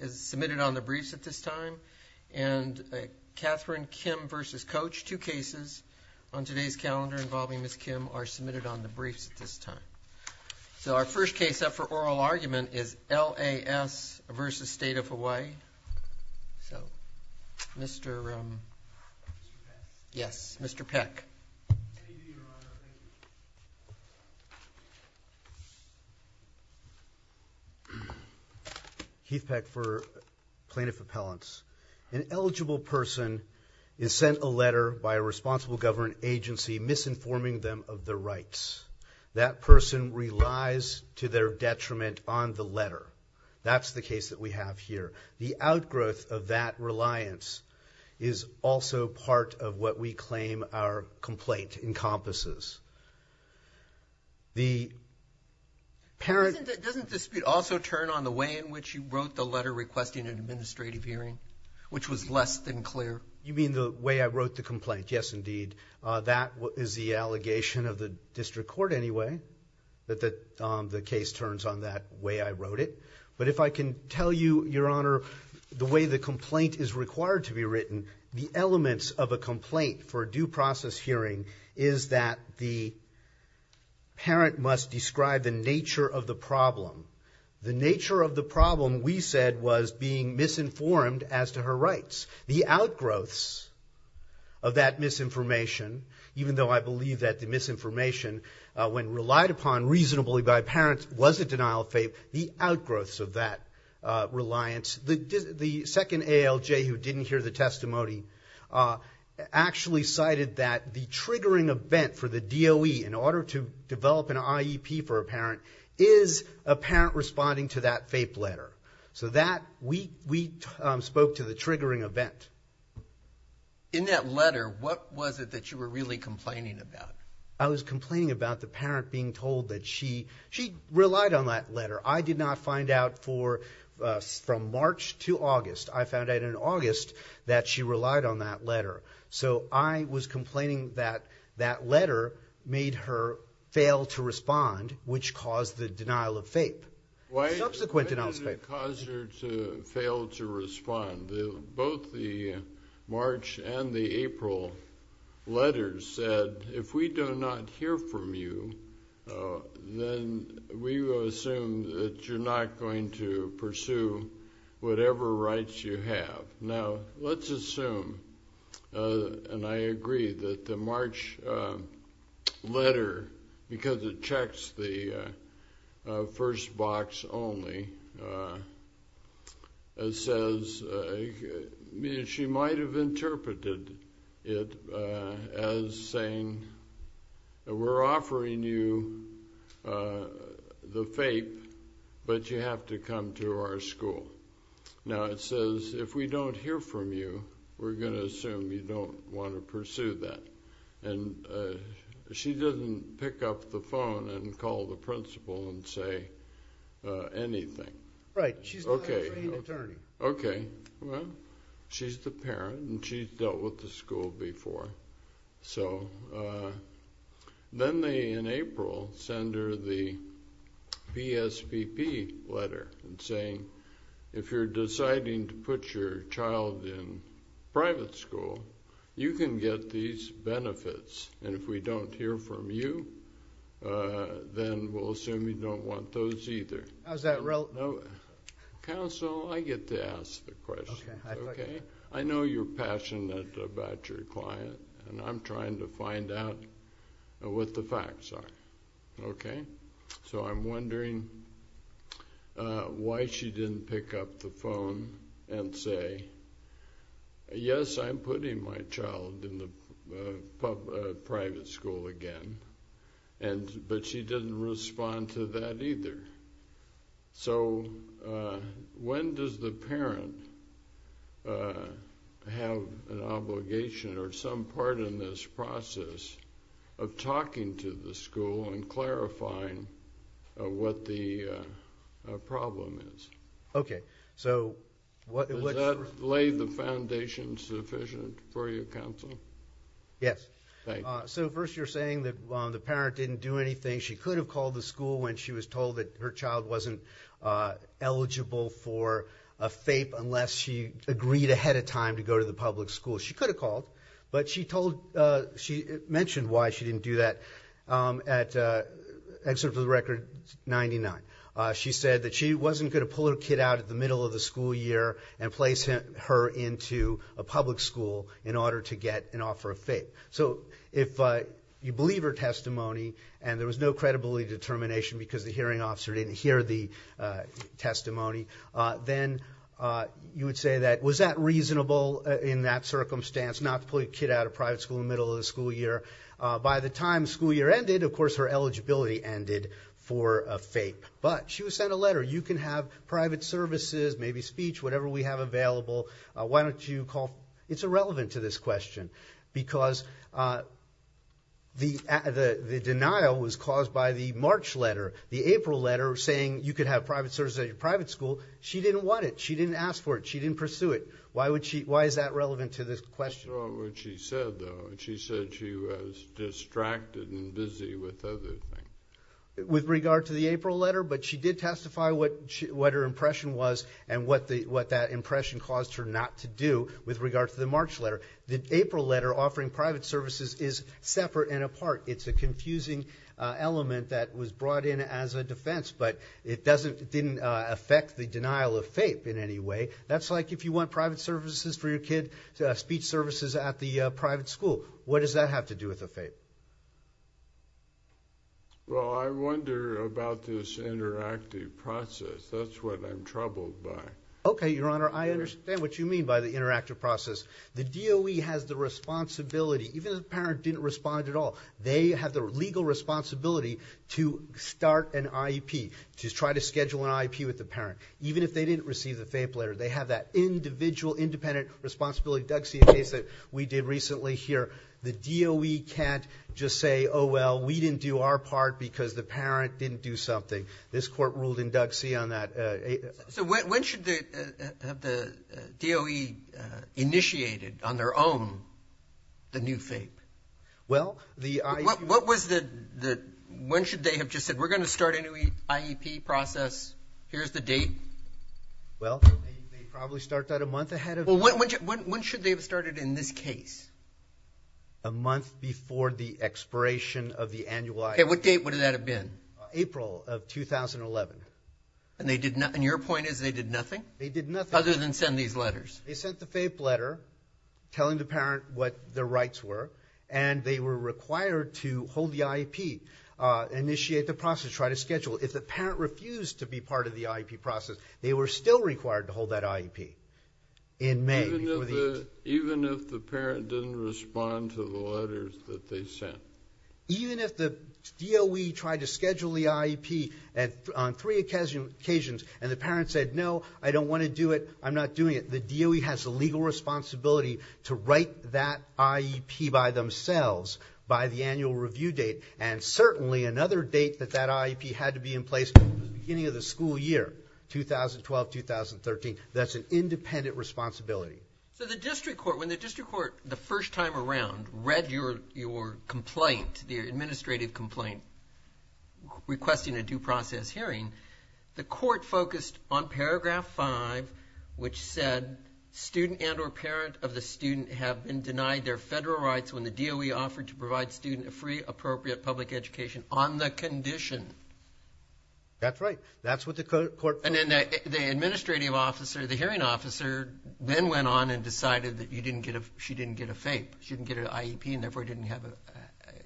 is submitted on the briefs at this time, and Katherine Kim v. Coach, two cases on today's calendar involving Ms. Kim, are submitted on the briefs at this time. So our first case up for oral argument is L.A.S. v. State of Hawaii, so Mr. Peck. Keith Peck for Plaintiff Appellants. An eligible person is sent a letter by a responsible government agency misinforming them of their rights. That person relies to their detriment on the letter. That's the case that we have here. The outgrowth of that reliance is also part of what we claim our complaint encompasses. The parent- Doesn't the dispute also turn on the way in which you wrote the letter requesting an administrative hearing, which was less than clear? You mean the way I wrote the complaint, yes, indeed. That is the allegation of the district court anyway, that the case turns on that way I wrote it. But if I can tell you, Your Honor, the way the complaint is required to be written, the elements of a complaint for a due process hearing is that the parent must describe the nature of the problem. The nature of the problem, we said, was being misinformed as to her rights. The outgrowths of that misinformation, even though I believe that the misinformation, when relied upon reasonably by parents, was a denial of FAPE, the outgrowths of that reliance. The second ALJ who didn't hear the testimony actually cited that the triggering event for the DOE in order to develop an IEP for a parent is a parent responding to that FAPE letter. So that, we spoke to the triggering event. In that letter, what was it that you were really complaining about? I was complaining about the parent being told that she relied on that letter. I did not find out from March to August. I found out in August that she relied on that letter. So I was complaining that that letter made her fail to respond, which caused the denial of FAPE. Subsequent denial of FAPE. Why did it cause her to fail to respond? Both the March and the April letters said, if we do not hear from you, then we will assume that you're not going to pursue whatever rights you have. Now, let's assume, and I agree, that the March letter, because it checks the first box only, says, she might have interpreted it as saying, we're offering you the FAPE, but you have to come to our school. Now, it says, if we don't hear from you, we're going to assume you don't want to pursue that. And she doesn't pick up the phone and call the principal and say anything. Right. She's not a trained attorney. Okay. Okay. Well, she's the parent, and she's dealt with the school before. So then they, in April, send her the BSVP letter, saying, if you're deciding to put your child in private school, you can get these benefits. And if we don't hear from you, then we'll assume you don't want those either. How's that relevant? Counsel, I get to ask the question. Okay. Okay? I know you're passionate about your client, and I'm trying to find out what the facts are. Okay? Okay. So I'm wondering why she didn't pick up the phone and say, yes, I'm putting my child in the private school again, but she didn't respond to that either. So when does the parent have an obligation or some part in this process of talking to the school and clarifying what the problem is? Okay. Does that lay the foundation sufficient for you, Counsel? Yes. Thank you. So first, you're saying that the parent didn't do anything. She could have called the school when she was told that her child wasn't eligible for a FAPE unless she agreed ahead of time to go to the public school. She could have called, but she mentioned why she didn't do that. At Excerpt of the Record 99, she said that she wasn't going to pull her kid out at the middle of the school year and place her into a public school in order to get an offer of FAPE. So if you believe her testimony and there was no credibility determination because the hearing officer didn't hear the testimony, then you would say that, was that reasonable in that circumstance, not to pull your kid out of private school in the middle of the school year? By the time school year ended, of course, her eligibility ended for a FAPE. But she was sent a letter. You can have private services, maybe speech, whatever we have available. Why don't you call? It's irrelevant to this question because the denial was caused by the March letter, the April letter saying you could have private services at your private school. She didn't want it. She didn't ask for it. She didn't pursue it. Why is that relevant to this question? I saw what she said, though. She said she was distracted and busy with other things. With regard to the April letter, but she did testify what her impression was and what that impression caused her not to do with regard to the March letter. The April letter offering private services is separate and apart. It's a confusing element that was brought in as a defense, but it didn't affect the denial of FAPE in any way. That's like if you want private services for your kid, speech services at the private school. What does that have to do with the FAPE? Well, I wonder about this interactive process. That's what I'm troubled by. Okay, Your Honor, I understand what you mean by the interactive process. The DOE has the responsibility, even if the parent didn't respond at all, they have the legal responsibility to start an IEP, to try to schedule an IEP with the parent. Even if they didn't receive the FAPE letter, they have that individual, independent responsibility. Doug, see a case that we did recently here. The DOE can't just say, oh, well, we didn't do our part because the parent didn't do something. This court ruled in Doug, see on that. So when should they have the DOE initiated on their own the new FAPE? Well, the IEP. When should they have just said, we're going to start a new IEP process. Here's the date. Well, they probably start that a month ahead. Well, when should they have started in this case? A month before the expiration of the annual IEP. Okay, what date would that have been? April of 2011. And your point is they did nothing? They did nothing. Other than send these letters. They sent the FAPE letter telling the parent what their rights were, and they were required to hold the IEP, initiate the process, try to schedule. If the parent refused to be part of the IEP process, they were still required to hold that IEP in May. Even if the parent didn't respond to the letters that they sent? Even if the DOE tried to schedule the IEP on three occasions and the parent said, no, I don't want to do it, I'm not doing it, the DOE has the legal responsibility to write that IEP by themselves, by the annual review date, and certainly another date that that IEP had to be in place, the beginning of the school year, 2012-2013. That's an independent responsibility. So the district court, when the district court, the first time around, read your complaint, your administrative complaint, requesting a due process hearing, the court focused on paragraph 5, which said, student and or parent of the student have been denied their federal rights when the DOE offered to provide student a free, appropriate public education on the condition. That's right. That's what the court... And then the administrative officer, the hearing officer, then went on and decided that you didn't get a, she didn't get a FAPE, she didn't get an IEP, and therefore didn't have a,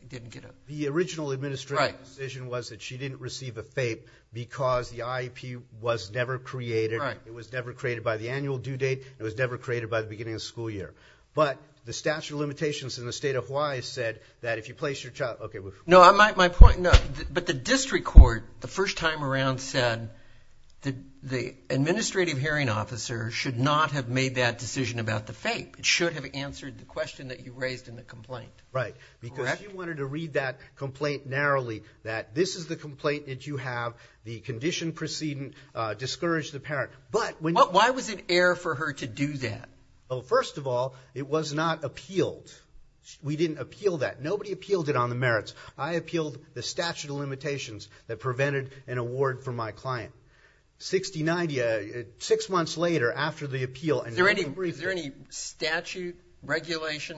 didn't get a... The original administrative decision was that she didn't receive a FAPE because the IEP was never created, it was never created by the annual due date, it was never created by the beginning of the school year. But the statute of limitations in the state of Hawaii said that if you place your child... No, my point, no, but the district court, the first time around, said the administrative hearing officer should not have made that decision about the FAPE. It should have answered the question that you raised in the complaint. Right, because she wanted to read that complaint narrowly, that this is the complaint that you have, the condition preceding discouraged the parent. But when... Why was it air for her to do that? Well, first of all, it was not appealed. We didn't appeal that. Nobody appealed it on the merits. I appealed the statute of limitations that prevented an award for my client. Sixty-nine, six months later, after the appeal... Is there any statute, regulation,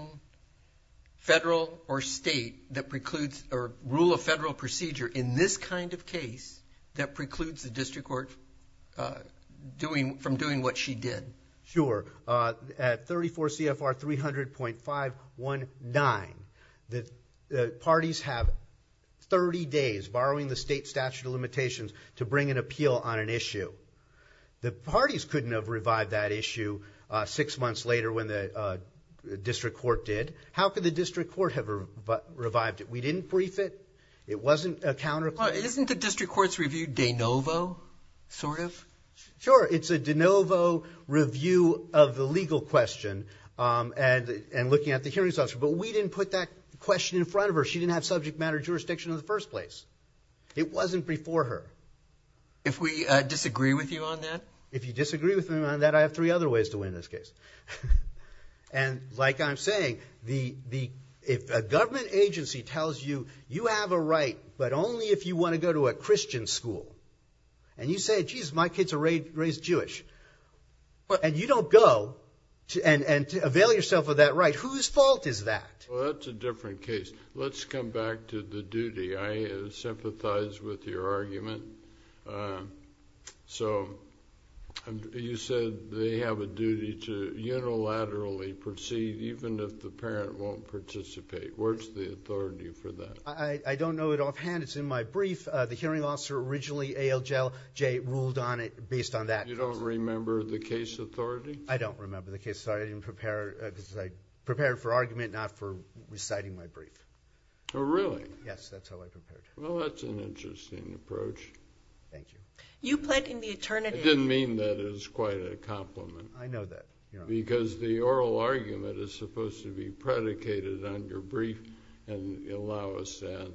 federal or state, that precludes, or rule of federal procedure in this kind of case, that precludes the district court from doing what she did? Sure. At 34 CFR 300.519, the parties have 30 days, borrowing the state statute of limitations, to bring an appeal on an issue. The parties couldn't have revived that issue six months later when the district court did. How could the district court have revived it? We didn't brief it. It wasn't a counter... Isn't the district court's review de novo, sort of? Sure. It's a de novo review of the legal question, and looking at the hearings officer. But we didn't put that question in front of her. She didn't have subject matter jurisdiction in the first place. It wasn't before her. If we disagree with you on that? If you disagree with me on that, I have three other ways to win this case. And, like I'm saying, the... If a government agency tells you, you have a right, but only if you want to go to a Christian school, and you say, geez, my kids are raised Jewish, and you don't go and avail yourself of that right, whose fault is that? Well, that's a different case. Let's come back to the duty. I sympathize with your argument. So, you said they have a duty to unilaterally proceed even if the parent won't participate. Where's the authority for that? I don't know it offhand. It's in my brief. The hearing officer originally, ALJLJ, ruled on it based on that. You don't remember the case authority? I don't remember the case authority. I prepared for argument, not for reciting my brief. Oh, really? Yes, that's how I prepared. Well, that's an interesting approach. Thank you. You pled in the attorney... I didn't mean that as quite a compliment. I know that. Because the oral argument is supposed to be predicated on your brief and allow us to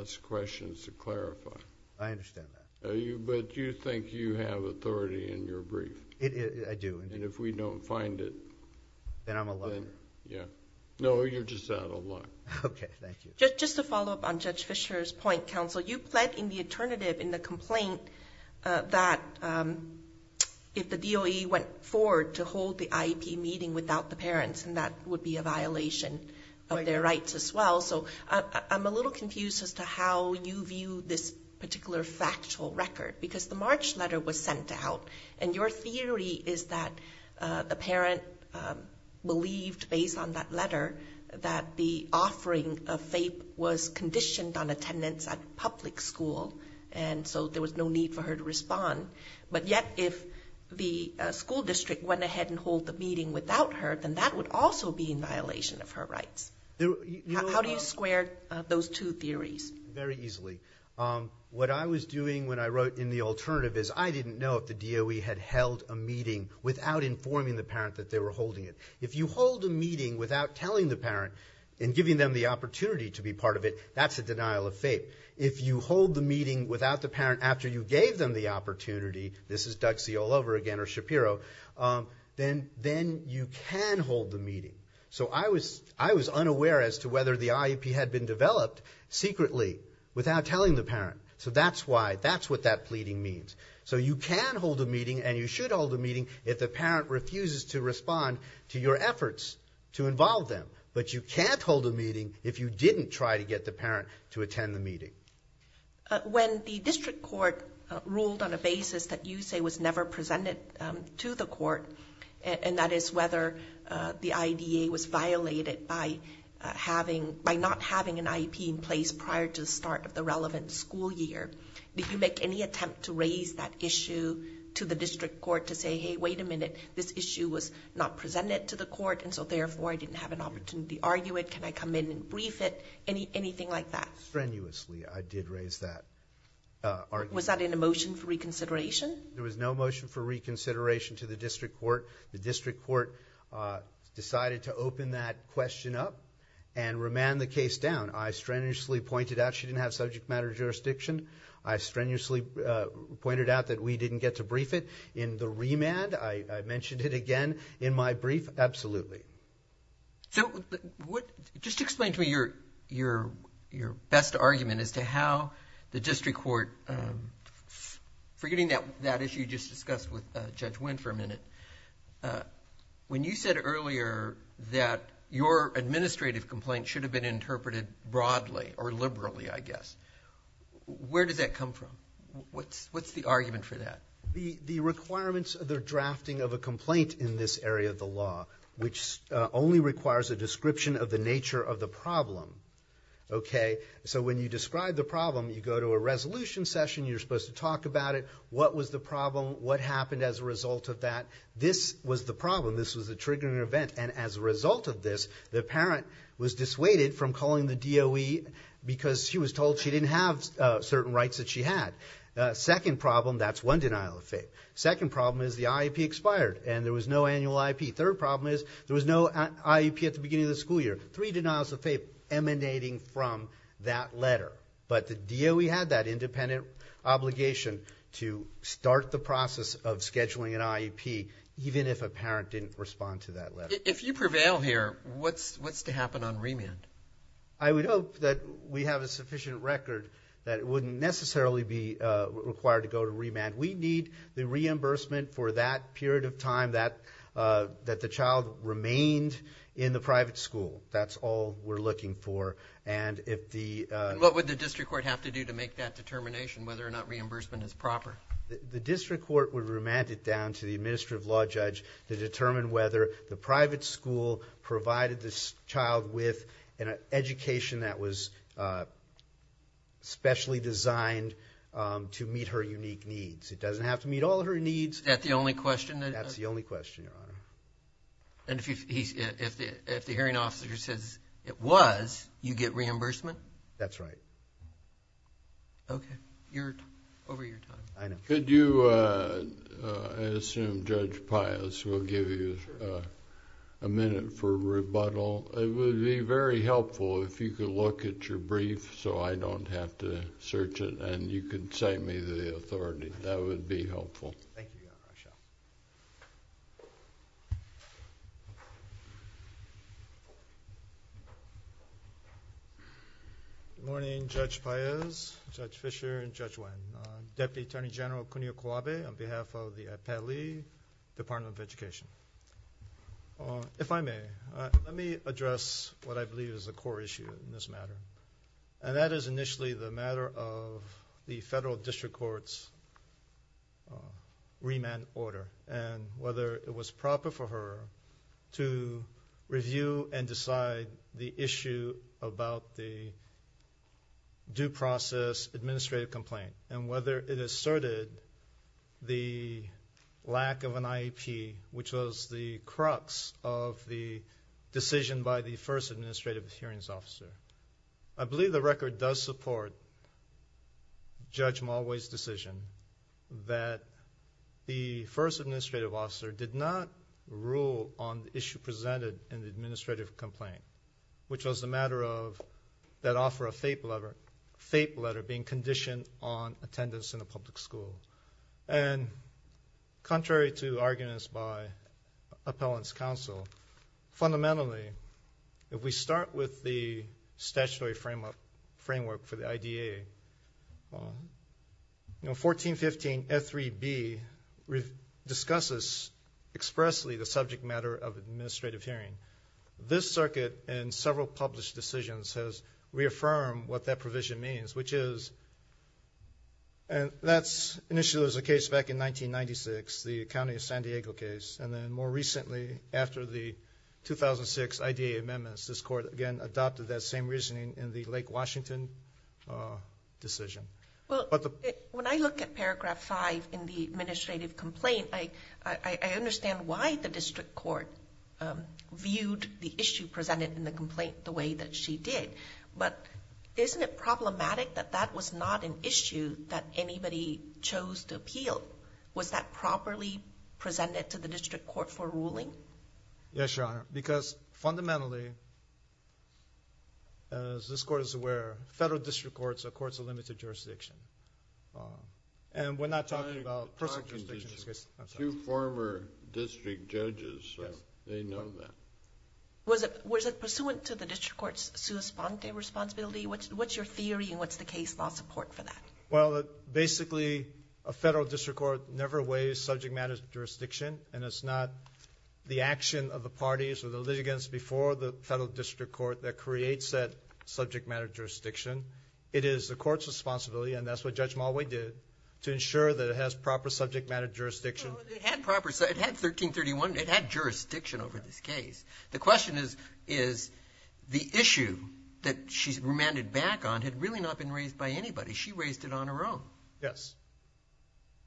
ask questions to clarify. I understand that. But you think you have authority in your brief? I do. And if we don't find it... Then I'm alone. Yeah. No, you're just out of luck. Okay, thank you. Just to follow up on Judge Fischer's point, counsel, you pled in the alternative in the complaint that if the DOE went forward to hold the IEP meeting without the parents, and that would be a violation of their rights as well. So I'm a little confused as to how you view this particular factual record. Because the March letter was sent out, and your theory is that the parent believed, based on that letter, that the offering of FAPE was conditioned on attendance at public school, and so there was no need for her to respond. But yet, if the school district went ahead and hold the meeting without her, then that would also be in violation of her rights. How do you square those two theories? Very easily. What I was doing when I wrote in the alternative is I didn't know if the DOE had held a meeting without informing the parent that they were holding it. If you hold a meeting without telling the parent and giving them the opportunity to be part of it, that's a denial of FAPE. If you hold the meeting without the parent after you gave them the opportunity, this is Duxie all over again, or Shapiro, then you can hold the meeting. So I was unaware as to whether the IEP had been developed secretly without telling the parent. So that's why, that's what that pleading means. So you can hold a meeting, and you should hold a meeting, if the parent refuses to respond to your efforts to involve them. But you can't hold a meeting if you didn't try to get the parent to attend the meeting. When the district court ruled on a basis that you say was never presented to the court, and that is whether the IDA was violated by not having an IEP in place prior to the start of the relevant school year, did you make any attempt to raise that issue to the district court to say, hey, wait a minute, this issue was not presented to the court, and so therefore I didn't have an opportunity to argue it, can I come in and brief it, anything like that? Strenuously, I did raise that argument. Was that in a motion for reconsideration? There was no motion for reconsideration to the district court. The district court decided to open that question up and remand the case down. I strenuously pointed out she didn't have subject matter jurisdiction. I strenuously pointed out that we didn't get to brief it. In the remand, I mentioned it again. In my brief, absolutely. So what... Just explain to me your best argument as to how the district court... Forgetting that issue you just discussed with Judge Wynn for a minute, when you said earlier that your administrative complaint should have been interpreted broadly, or liberally, I guess, where does that come from? What's the argument for that? The requirements of the drafting of a complaint in this area of the law, which only requires a description of the nature of the problem, okay? So when you describe the problem, you go to a resolution session, you're supposed to talk about it. What was the problem? What happened as a result of that? This was the problem. This was the triggering event. And as a result of this, the parent was dissuaded from calling the DOE because she was told she didn't have certain rights that she had. Second problem, that's one denial of faith. Second problem is the IEP expired and there was no annual IEP. Third problem is there was no IEP at the beginning of the school year. Three denials of faith emanating from that letter. But the DOE had that independent obligation to start the process of scheduling an IEP even if a parent didn't respond to that letter. If you prevail here, what's to happen on remand? I would hope that we have a sufficient record that it wouldn't necessarily be required to go to remand. We need the reimbursement for that period of time that the child remained in the private school. That's all we're looking for. And if the... What would the district court have to do to make that determination whether or not reimbursement is proper? The district court would remand it down to the administrative law judge to determine whether the private school provided this child with an education that was specially designed to meet her unique needs. It doesn't have to meet all her needs. Is that the only question? That's the only question, Your Honor. And if the hearing officer says it was, you get reimbursement? That's right. Okay. You're over your time. I know. Could you... I assume Judge Pius will give you a minute for rebuttal. It would be very helpful if you could look at your brief so I don't have to search it and you could say me the authority. That would be helpful. Thank you, Your Honor. Thank you. Good morning, Judge Pius, Judge Fischer, and Judge Nguyen. Deputy Attorney General Kunio Kuwabe on behalf of the Pali Department of Education. If I may, let me address what I believe is the core issue in this matter. And that is initially the matter of the federal district court's remand order and whether it was proper for her to review and decide the issue about the due process administrative complaint and whether it asserted the lack of an IEP, which was the crux of the decision by the first administrative hearings officer. I believe the record does support Judge Mulway's decision that the first administrative officer did not rule on the issue presented in the administrative complaint, which was the matter of that offer of fape letter being conditioned on attendance in a public school. And contrary to arguments by appellants' counsel, fundamentally, if we start with the statutory framework for the IDA, you know, 1415F3B discusses expressly the subject matter of administrative hearing. This circuit, in several published decisions, has reaffirmed what that provision means, which is, and that's initially the case back in 1996, the County of San Diego case, and then more recently, after the 2006 IDA amendments, this court again adopted that same reasoning in the Lake Washington decision. Well, when I look at paragraph 5 in the administrative complaint, I understand why the district court viewed the issue presented in the complaint the way that she did. But isn't it problematic that that was not an issue that anybody chose to appeal? Was that properly presented to the district court for ruling? Yes, Your Honor, because fundamentally, as this court is aware, federal district courts are courts of limited jurisdiction. And we're not talking about personal jurisdiction. I'm talking to two former district judges, so they know that. Was it pursuant to the district court's sua sponte responsibility? What's your theory, and what's the case law support for that? Well, basically, a federal district court never weighs subject matter jurisdiction, and it's not the action of the parties or the litigants before the federal district court that creates that subject matter jurisdiction. It is the court's responsibility, and that's what Judge Mulway did, to ensure that it has proper subject matter jurisdiction. It had 1331. It had jurisdiction over this case. The question is, the issue that she's remanded back on had really not been raised by anybody. She raised it on her own. Yes.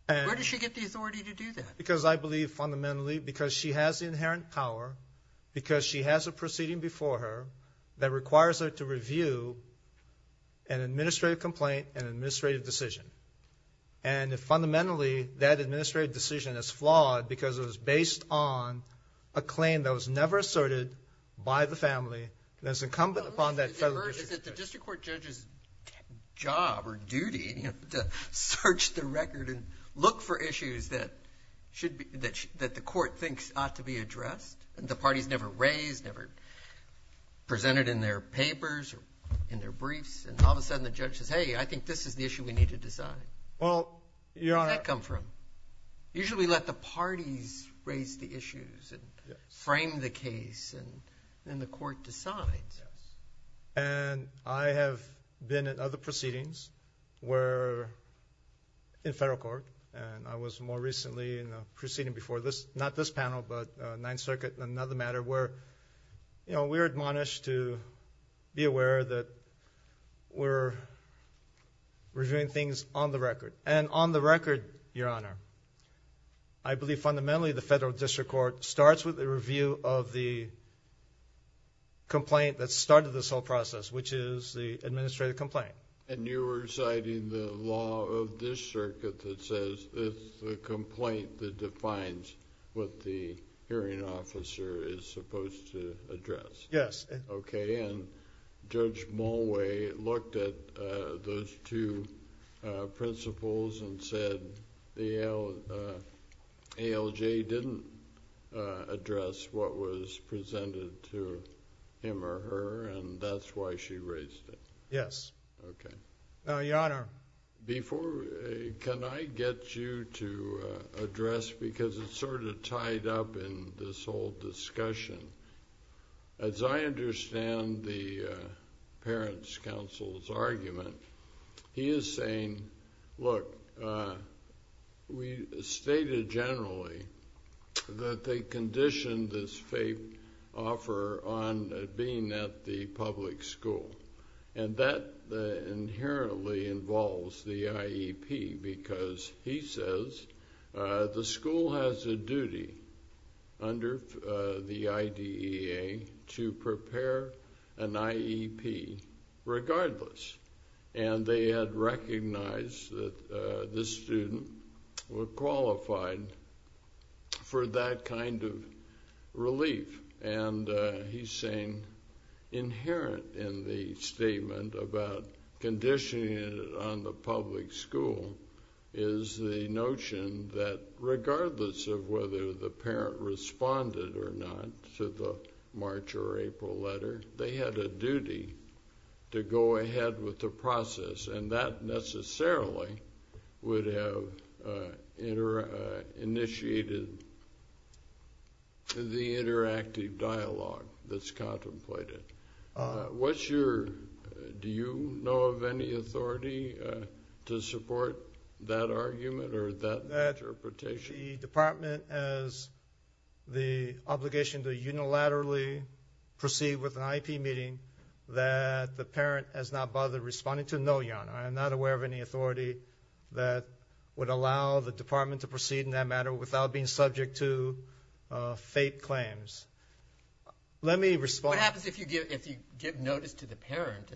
Where did she get the authority to do that? Because I believe, fundamentally, because she has inherent power, because she has a proceeding before her that requires her to review an administrative complaint, an administrative decision. And fundamentally, that administrative decision is flawed because it was based on a claim that was never asserted by the family that is incumbent upon that federal district court. Is it the district court judge's job or duty to search the record and look for issues that the court thinks ought to be addressed? The party's never raised, never presented in their papers or in their briefs, and all of a sudden, the judge says, hey, I think this is the issue we need to decide. Where does that come from? Usually, we let the parties raise the issues and frame the case, and then the court decides. And I have been in other proceedings where, in federal court, and I was more recently in a proceeding before this, not this panel, but Ninth Circuit, another matter where, you know, we're admonished to be aware that we're reviewing things on the record. And on the record, Your Honor, I believe, fundamentally, the federal district court starts with a review of the complaint that started this whole process, which is the administrative complaint. And you're reciting the law of this circuit that says it's the complaint that defines what the hearing officer is supposed to address. Yes. Okay, and Judge Mulway looked at those two principles and said the ALJ didn't address what was presented to him or her, and that's why she raised it. Yes. Okay. Your Honor. Before... Can I get you to address... Because it's sort of tied up in this whole discussion. As I understand the parents' counsel's argument, he is saying, look, we stated generally that they conditioned this FAPE offer on being at the public school. And that inherently involves the IEP, because he says the school has a duty under the IDEA to prepare an IEP regardless. And they had recognized that this student were qualified for that kind of relief. And he's saying inherent in the statement about conditioning it on the public school is the notion that regardless of whether the parent responded or not to the March or April letter, they had a duty to go ahead with the process, and that necessarily would have initiated the interactive dialogue that's contemplated. What's your... Do you know of any authority to support that argument or that interpretation? That the department has the obligation to unilaterally proceed with an IEP meeting that the parent has not bothered responding to. No, Your Honor, I am not aware of any authority that would allow the department to proceed in that matter without being subject to FAPE claims. Let me respond... What happens if you give notice to the parent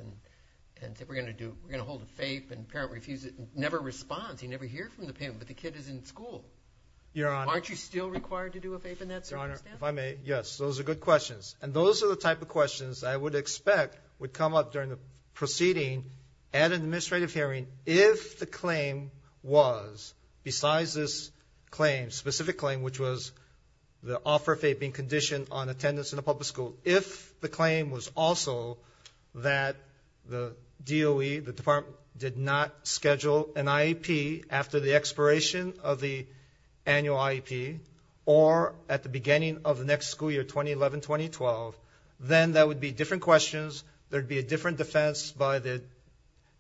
and say we're going to hold a FAPE and the parent refuses and never responds, you never hear from the parent, but the kid is in school? Your Honor... Aren't you still required to do a FAPE in that circumstance? Your Honor, if I may, yes, those are good questions. And those are the type of questions I would expect would come up during the proceeding at an administrative hearing if the claim was besides this specific claim which was the offer of FAPE being conditioned on attendance in a public school, if the claim was also that the DOE, the department, did not schedule an IEP after the expiration of the annual IEP or at the beginning of the next school year, 2011-2012, then that would be different questions, there would be a different defense by the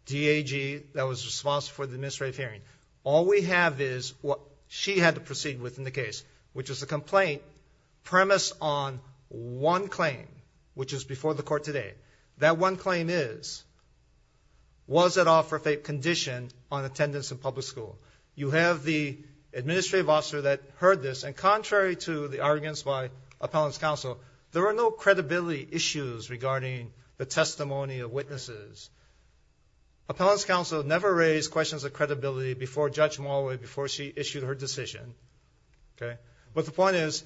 DAG that was responsible for the administrative hearing. All we have is what she had to proceed with in the case, which was a complaint premised on one claim, which is before the Court today. That one claim is, was that offer of FAPE conditioned on attendance in a public school? You have the administrative officer that heard this and contrary to the arguments by appellant's counsel, there were no credibility issues regarding the testimony of witnesses. Appellant's counsel never raised questions of credibility before Judge Mulway, before she issued her decision. But the point is,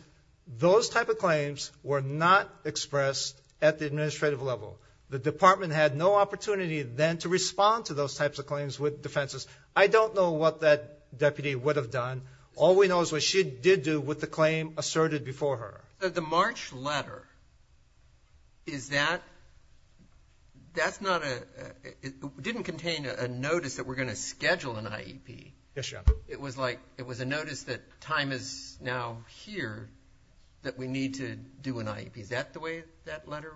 those type of claims were not expressed at the administrative level. The department had no opportunity then to respond to those types of claims with defenses. I don't know what that deputy would have done. All we know is what she did do with the claim asserted before her. The March letter, is that, that's not a, it didn't contain a notice that we're going to schedule Yes, Your Honor. It was like, it was a notice that time is now here that we need to do an IEP. Is that the way that letter?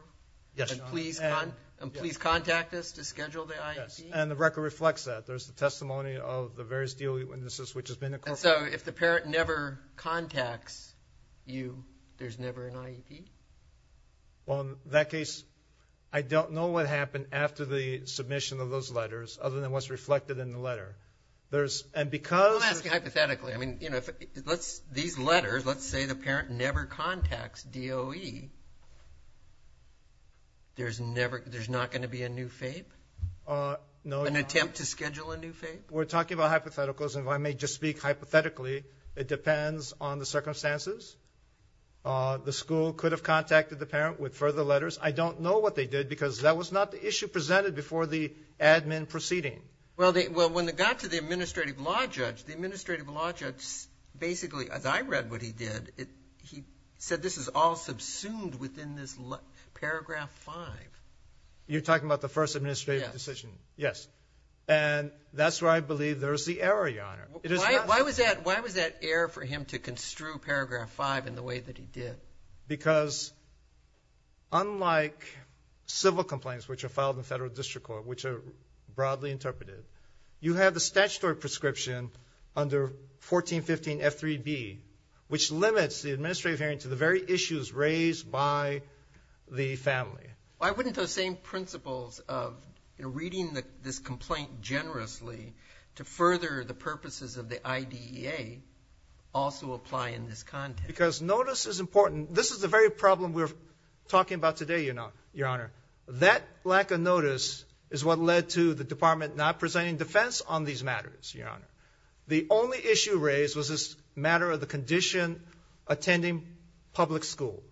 Yes, Your Honor. And please contact us to schedule the IEP? Yes, and the record reflects that. There's the testimony of the various deal witnesses which has been incorporated. And so, if the parent never contacts you, there's never an IEP? Well, in that case, I don't know what happened after the submission of those letters other than what's reflected in the letter. There's, and because, I'm asking hypothetically, I mean, you know, let's, these letters, let's say the parent never contacts DOE, there's never, there's not going to be a new FAPE? No. An attempt to schedule a new FAPE? We're talking about hypotheticals and if I may just speak hypothetically, it depends on the circumstances. The school could have contacted the parent with further letters. I don't know what they did because that was not the issue presented before the admin proceeding. Well, when it got to the administrative law judge, the administrative law judge, basically, as I read what he did, he said, this is all subsumed within this paragraph five. You're talking about the first administrative decision? Yes. Yes. And that's where I believe there's the error, Your Honor. Why was that error for him to construe paragraph five in the way that he did? Because unlike civil complaints which are filed in the Federal District Court which are broadly interpreted, you have the statutory prescription under 1415 F3B which limits the administrative hearing to the very issues raised by the family. Why wouldn't those same principles of reading this complaint generously to further the purposes of the IDEA also apply in this context? Because notice is important. This is the very problem we're talking about today, Your Honor. That lack of notice is what led to the Department not presenting defense on these matters, Your Honor. The only issue raised was this matter of the condition attending public school.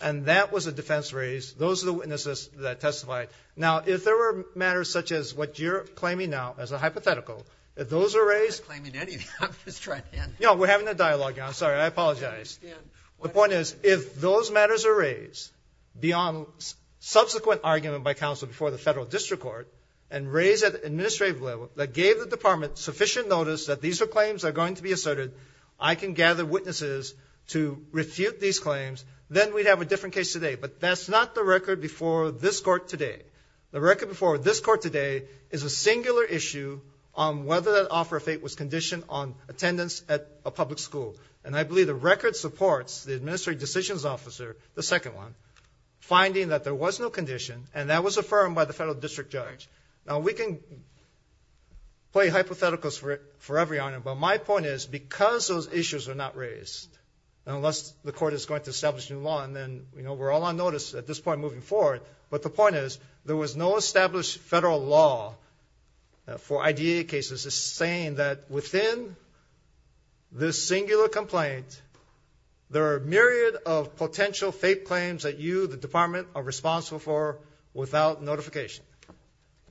And that was a defense raised. Those are the witnesses that testified. Now, if there were matters such as what you're claiming now as a hypothetical, if those are raised... I'm not claiming anything. We're having a dialogue. I apologize. The point is if those matters are raised beyond subsequent argument by counsel before the Federal District Court and raised at the administrative level that gave the Department sufficient notice that these issues raised. The record before this court today is a singular issue on whether that offer of fate was conditioned on attendance at a public school. And I believe the record supports the Administrative Decisions Officer, the second one, finding that there was no condition and that was affirmed by the established federal law for I.D.A. cases is saying that within this singular complaint there are a myriad of potential fake claims that you, the Department, are responsible for without notification.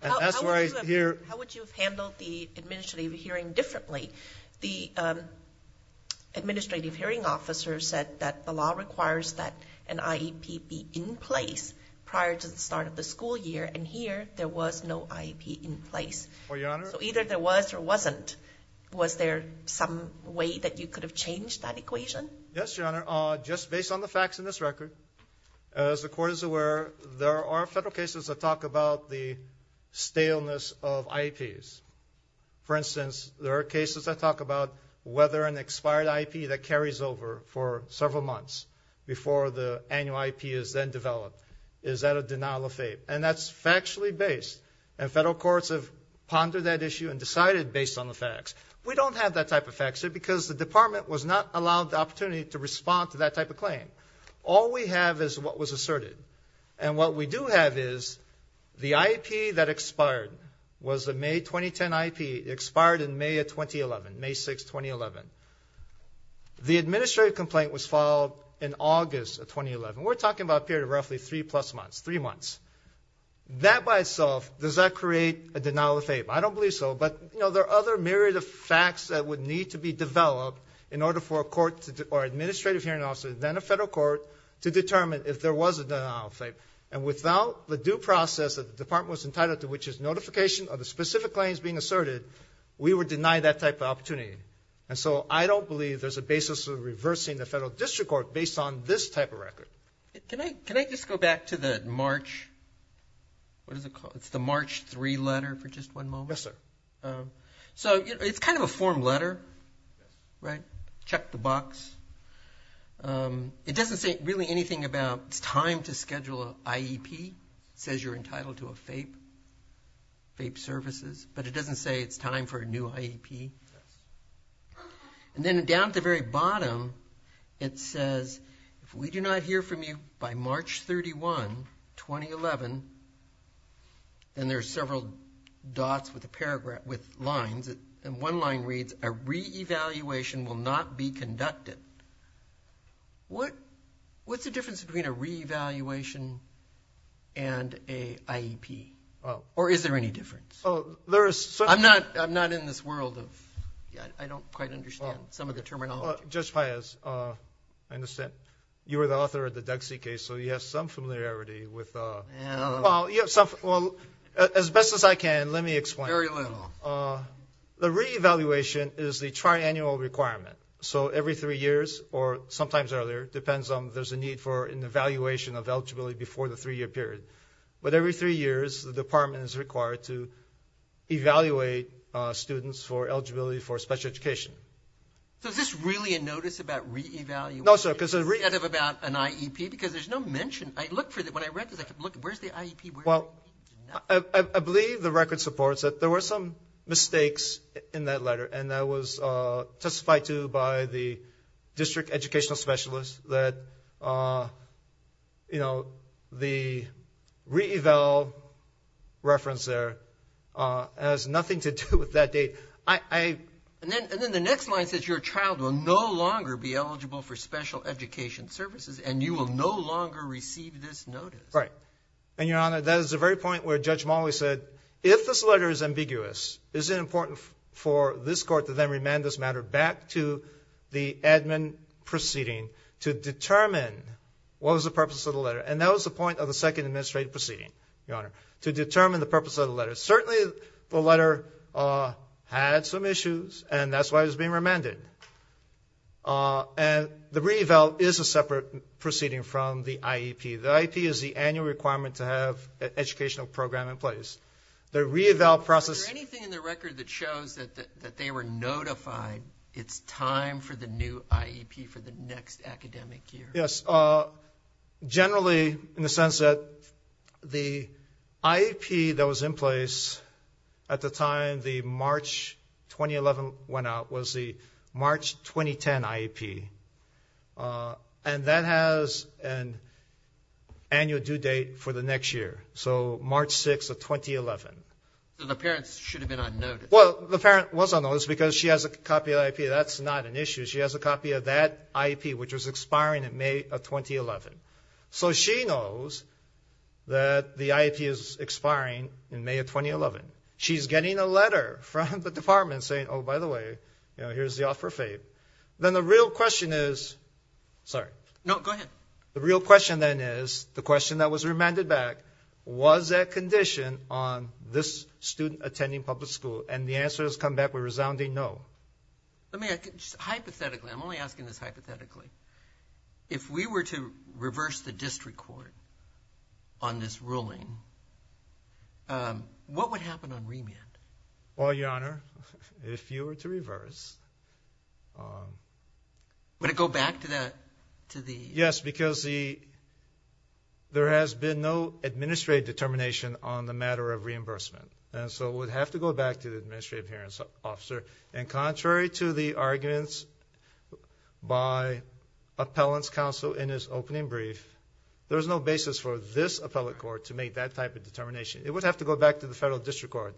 How would you have handled the administrative hearing differently? The Administrative Hearing Officer said that the law requires that there was no I.D.A. in place. So either there was or wasn't. Was there some way that you could have changed that equation? Yes, Your Honor. Just based on the facts in this record, as the Court is aware, there are federal cases that talk about the staleness of I.D.A.'s. For instance, there are several cases that are case-based and federal courts have pondered that issue and decided based on the facts. We don't have that type of facts because the Department was not allowed the opportunity to respond to that type of claim. All we have is what was asserted and what we do have is the I.D.A. that expired in May 2011. The administrative complaint was filed in August of 2011. We're talking about a period of roughly three months. That by itself, does that denial of fame? I don't believe so, but there are other myriad of facts that would need to be developed in order for an identification of the specific claims being asserted. We were denied that type of opportunity. I don't believe there's a basis for reversing the Federal District Court based on this type of record. Can I just go back to the March 3 letter for just one moment? Yes, sir. It's kind of a form letter. Check the FAPE services, but it doesn't say it's time for a new IEP. And then down at the very bottom, it says if we do not hear from you by March 31, 2011, and there are several dots with lines, and one line reads a re-evaluation will not be conducted. What's the difference between a re-evaluation and a IEP? Or is there any difference? I'm not in this world of I don't quite understand some of the terminology. Judge Páez, I understand you were the author of the Duxie case, so you have some familiarity with Well, as best as I can, let me explain. Very little. The re-evaluation is the evaluation of eligibility before the three-year period. But every three years, the department is required to evaluate students for eligibility for special education. So is this really a notice about re-evaluation instead of about an IEP? Because there's no mention. When I read this, I kept looking, where's the IEP? Well, I believe the record supports that there were some mistakes in that letter and that was testified to by the district educational specialist that the re-eval reference there has nothing to do with that date. And then the next line says your child will no longer be eligible for special education services and you will no longer receive this notice. Right. And your Honor, that is the very point where Judge Molloy said if this letter is ambiguous is it important for this court to then remand this matter back to the admin proceeding to determine what was the purpose of the letter. And that was the second administrative proceeding your Honor to determine the purpose of the letter. Certainly the letter had some issues why it was being remanded. And the re-eval is a separate proceeding from the IEP. The IEP is the annual requirement to have an IEP. But the IEP that was in place at the time the March 2011 went out was the March 2010 IEP. And that has an annual due date for the next year. So March 6 of 2011. The parents should have been unnoticed. Well the parent was unnoticed because she has a copy of the IEP. That's not an She has a copy of that IEP which was expiring in May of 2011. So she knows that the IEP is expiring in May of 2011. She's getting a letter from the department saying oh by the way here's the offer of aid. Then the real question then is the question that was remanded back was that condition on this student attending public school and the answer has come back with resounding no. Hypothetically I'm only asking this hypothetically if we were to reverse the district court on this ruling what would happen on remand? Well your honor if you were to reverse would it go back to that to the yes because the there has been no administrative determination on the matter of reimbursement and so it would have to go back to the administrative hearing officer and contrary to the arguments by appellant's counsel in his opening brief there's no basis for this appellate court to make that type of determination it would have to go back to the federal district court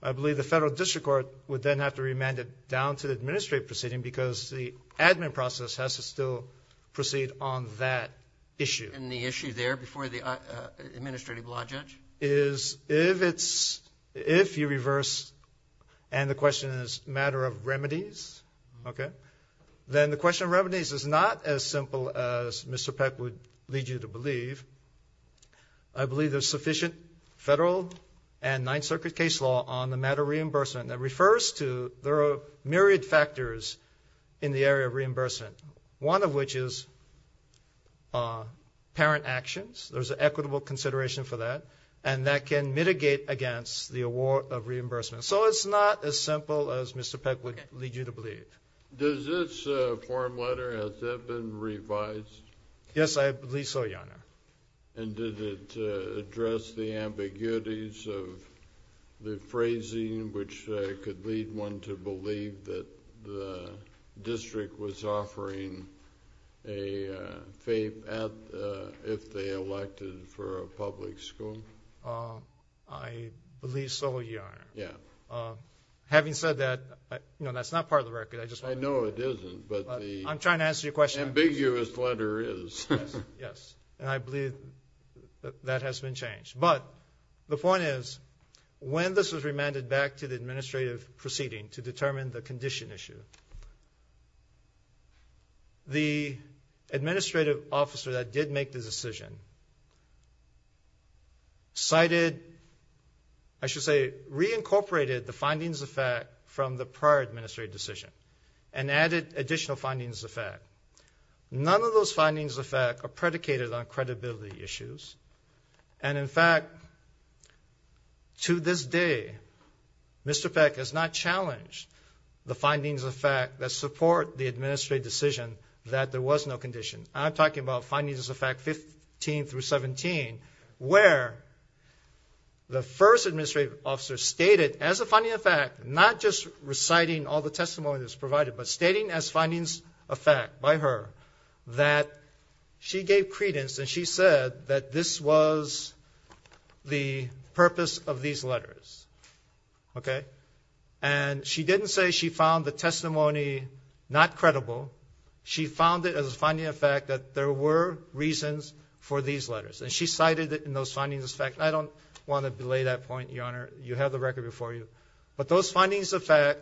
I believe the federal district court would then have to remand it down to the administrative proceeding because the admin process has to still proceed on that issue and the issue there before the administrative law judge is if it's if you reverse and the question is matter of remedies okay then the question of remedies is not as simple as Mr. Peck would lead you to believe I believe there's sufficient federal and Ninth Circuit case law on the matter of reimbursement that refers to there are myriad factors in the area of reimbursement one of which is parent actions there's an equitable consideration for that and that can mitigate against the award of reimbursement so it's not as simple as Mr. Peck would lead you to believe does this form letter has that been revised yes I believe so your honor and did it address the ambiguities of the phrasing which could lead one to believe that the district was offering a if they elected for a yes having said that no that's not part of the record I know it isn't but the I'm trying to answer your question ambiguous letter is yes and I believe that has been changed but the point is when this was remanded back to the administrative proceeding to determine the condition issue the administrative officer that did make this decision cited I should say reincorporated the findings of fact from the prior administrative decision and added additional findings of fact none of those findings of fact are predicated on credibility issues and in fact to this day Mr. Peck has not challenged the findings of fact that support the administrative decision that there was no condition I'm talking about findings of fact fifteen through seventeen where the first administrative officer stated as a finding of fact not just reciting all the testimonies provided but stating as findings of fact by her that she gave credence and she said that this was the purpose of these letters okay and she didn't say she found the testimony not credible she found it as a finding of fact that there were reasons for these letters and she cited it in those findings of fact I don't want to delay that point your honor you have the record before you but those findings of fact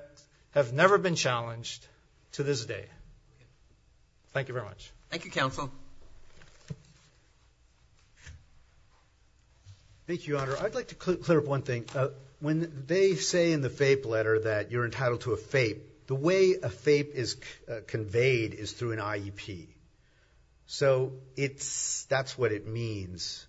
have never been challenged to this day thank you very much thank you counsel thank you your honor I'd like to clear up one thing when they say in the FAPE letter that you're entitled to a FAPE the way a FAPE is conveyed is through an IEP so it's that's what it means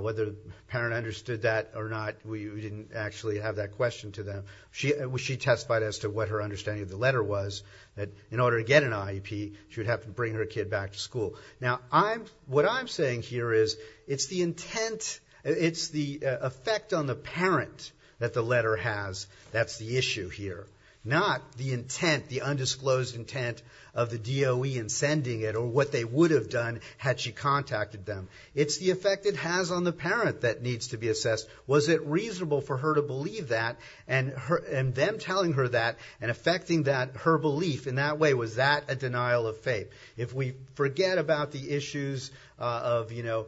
whether the parent understood that or not we didn't actually have that question to them she testified as to what her understanding of the letter was that in order to get an IEP she would have to bring her kid back to school now I'm what I'm saying here is it's the intent it's the effect on the parent that the letter has that's the issue here not the intent the undisclosed intent of the DOE in sending it or what they would have done had she contacted them it's the effect it has on the parent that needs to be assessed was it reasonable for her to believe that and her and them telling her that and affecting that her belief in that way was that a denial of faith if we forget about the issues of you know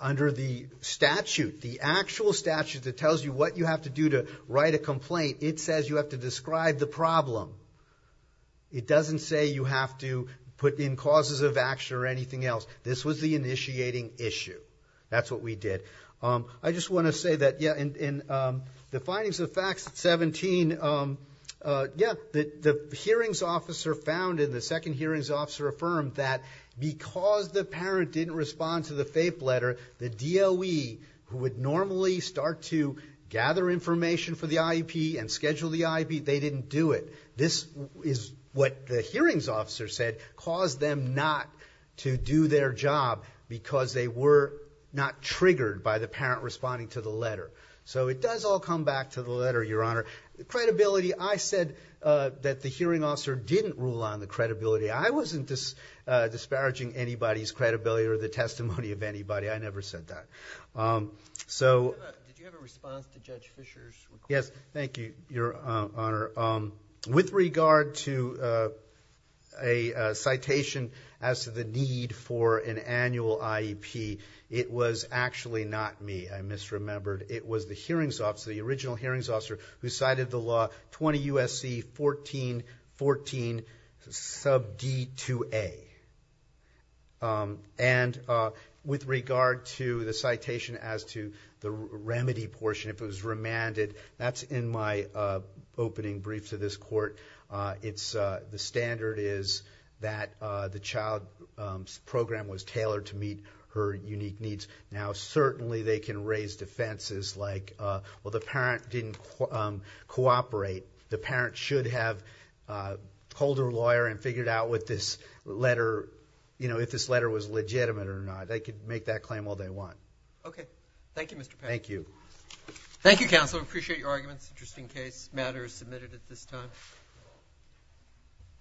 under the statute the actual statute that tells you what you have to do to write a complaint it says you have to describe the problem it doesn't say you have to put in causes of action or anything else this was the initiating issue that's what we did I just want to say that the findings the facts 17 the hearings officer found in the second hearings officer affirmed that because the parent didn't respond to the faith letter the DOE who would normally start to gather information for the IEP and schedule the IEP they didn't do it this is what the hearings officer said caused them not to do their job because they were not triggered by the parent responding to the letter so it does all come back to the letter your honor credibility I said that the response yes thank you your honor with regard to a citation as to the need for an annual IEP it was actually not me I misremembered it was the hearings officer the original hearings officer who cited the law 20 USC 1414 sub D 2A and with regard to the citation as to the remedy portion if it was remanded that's in my opening brief to this court it's the standard is that the child program was tailored to meet her unique needs now certainly they can raise defenses like well the parent didn't cooperate the parent should have called her lawyer and figured out what this letter you know if this letter was legitimate or not they could make that claim while they want thank you thank you counsel appreciate your arguments just in case matters submitted at this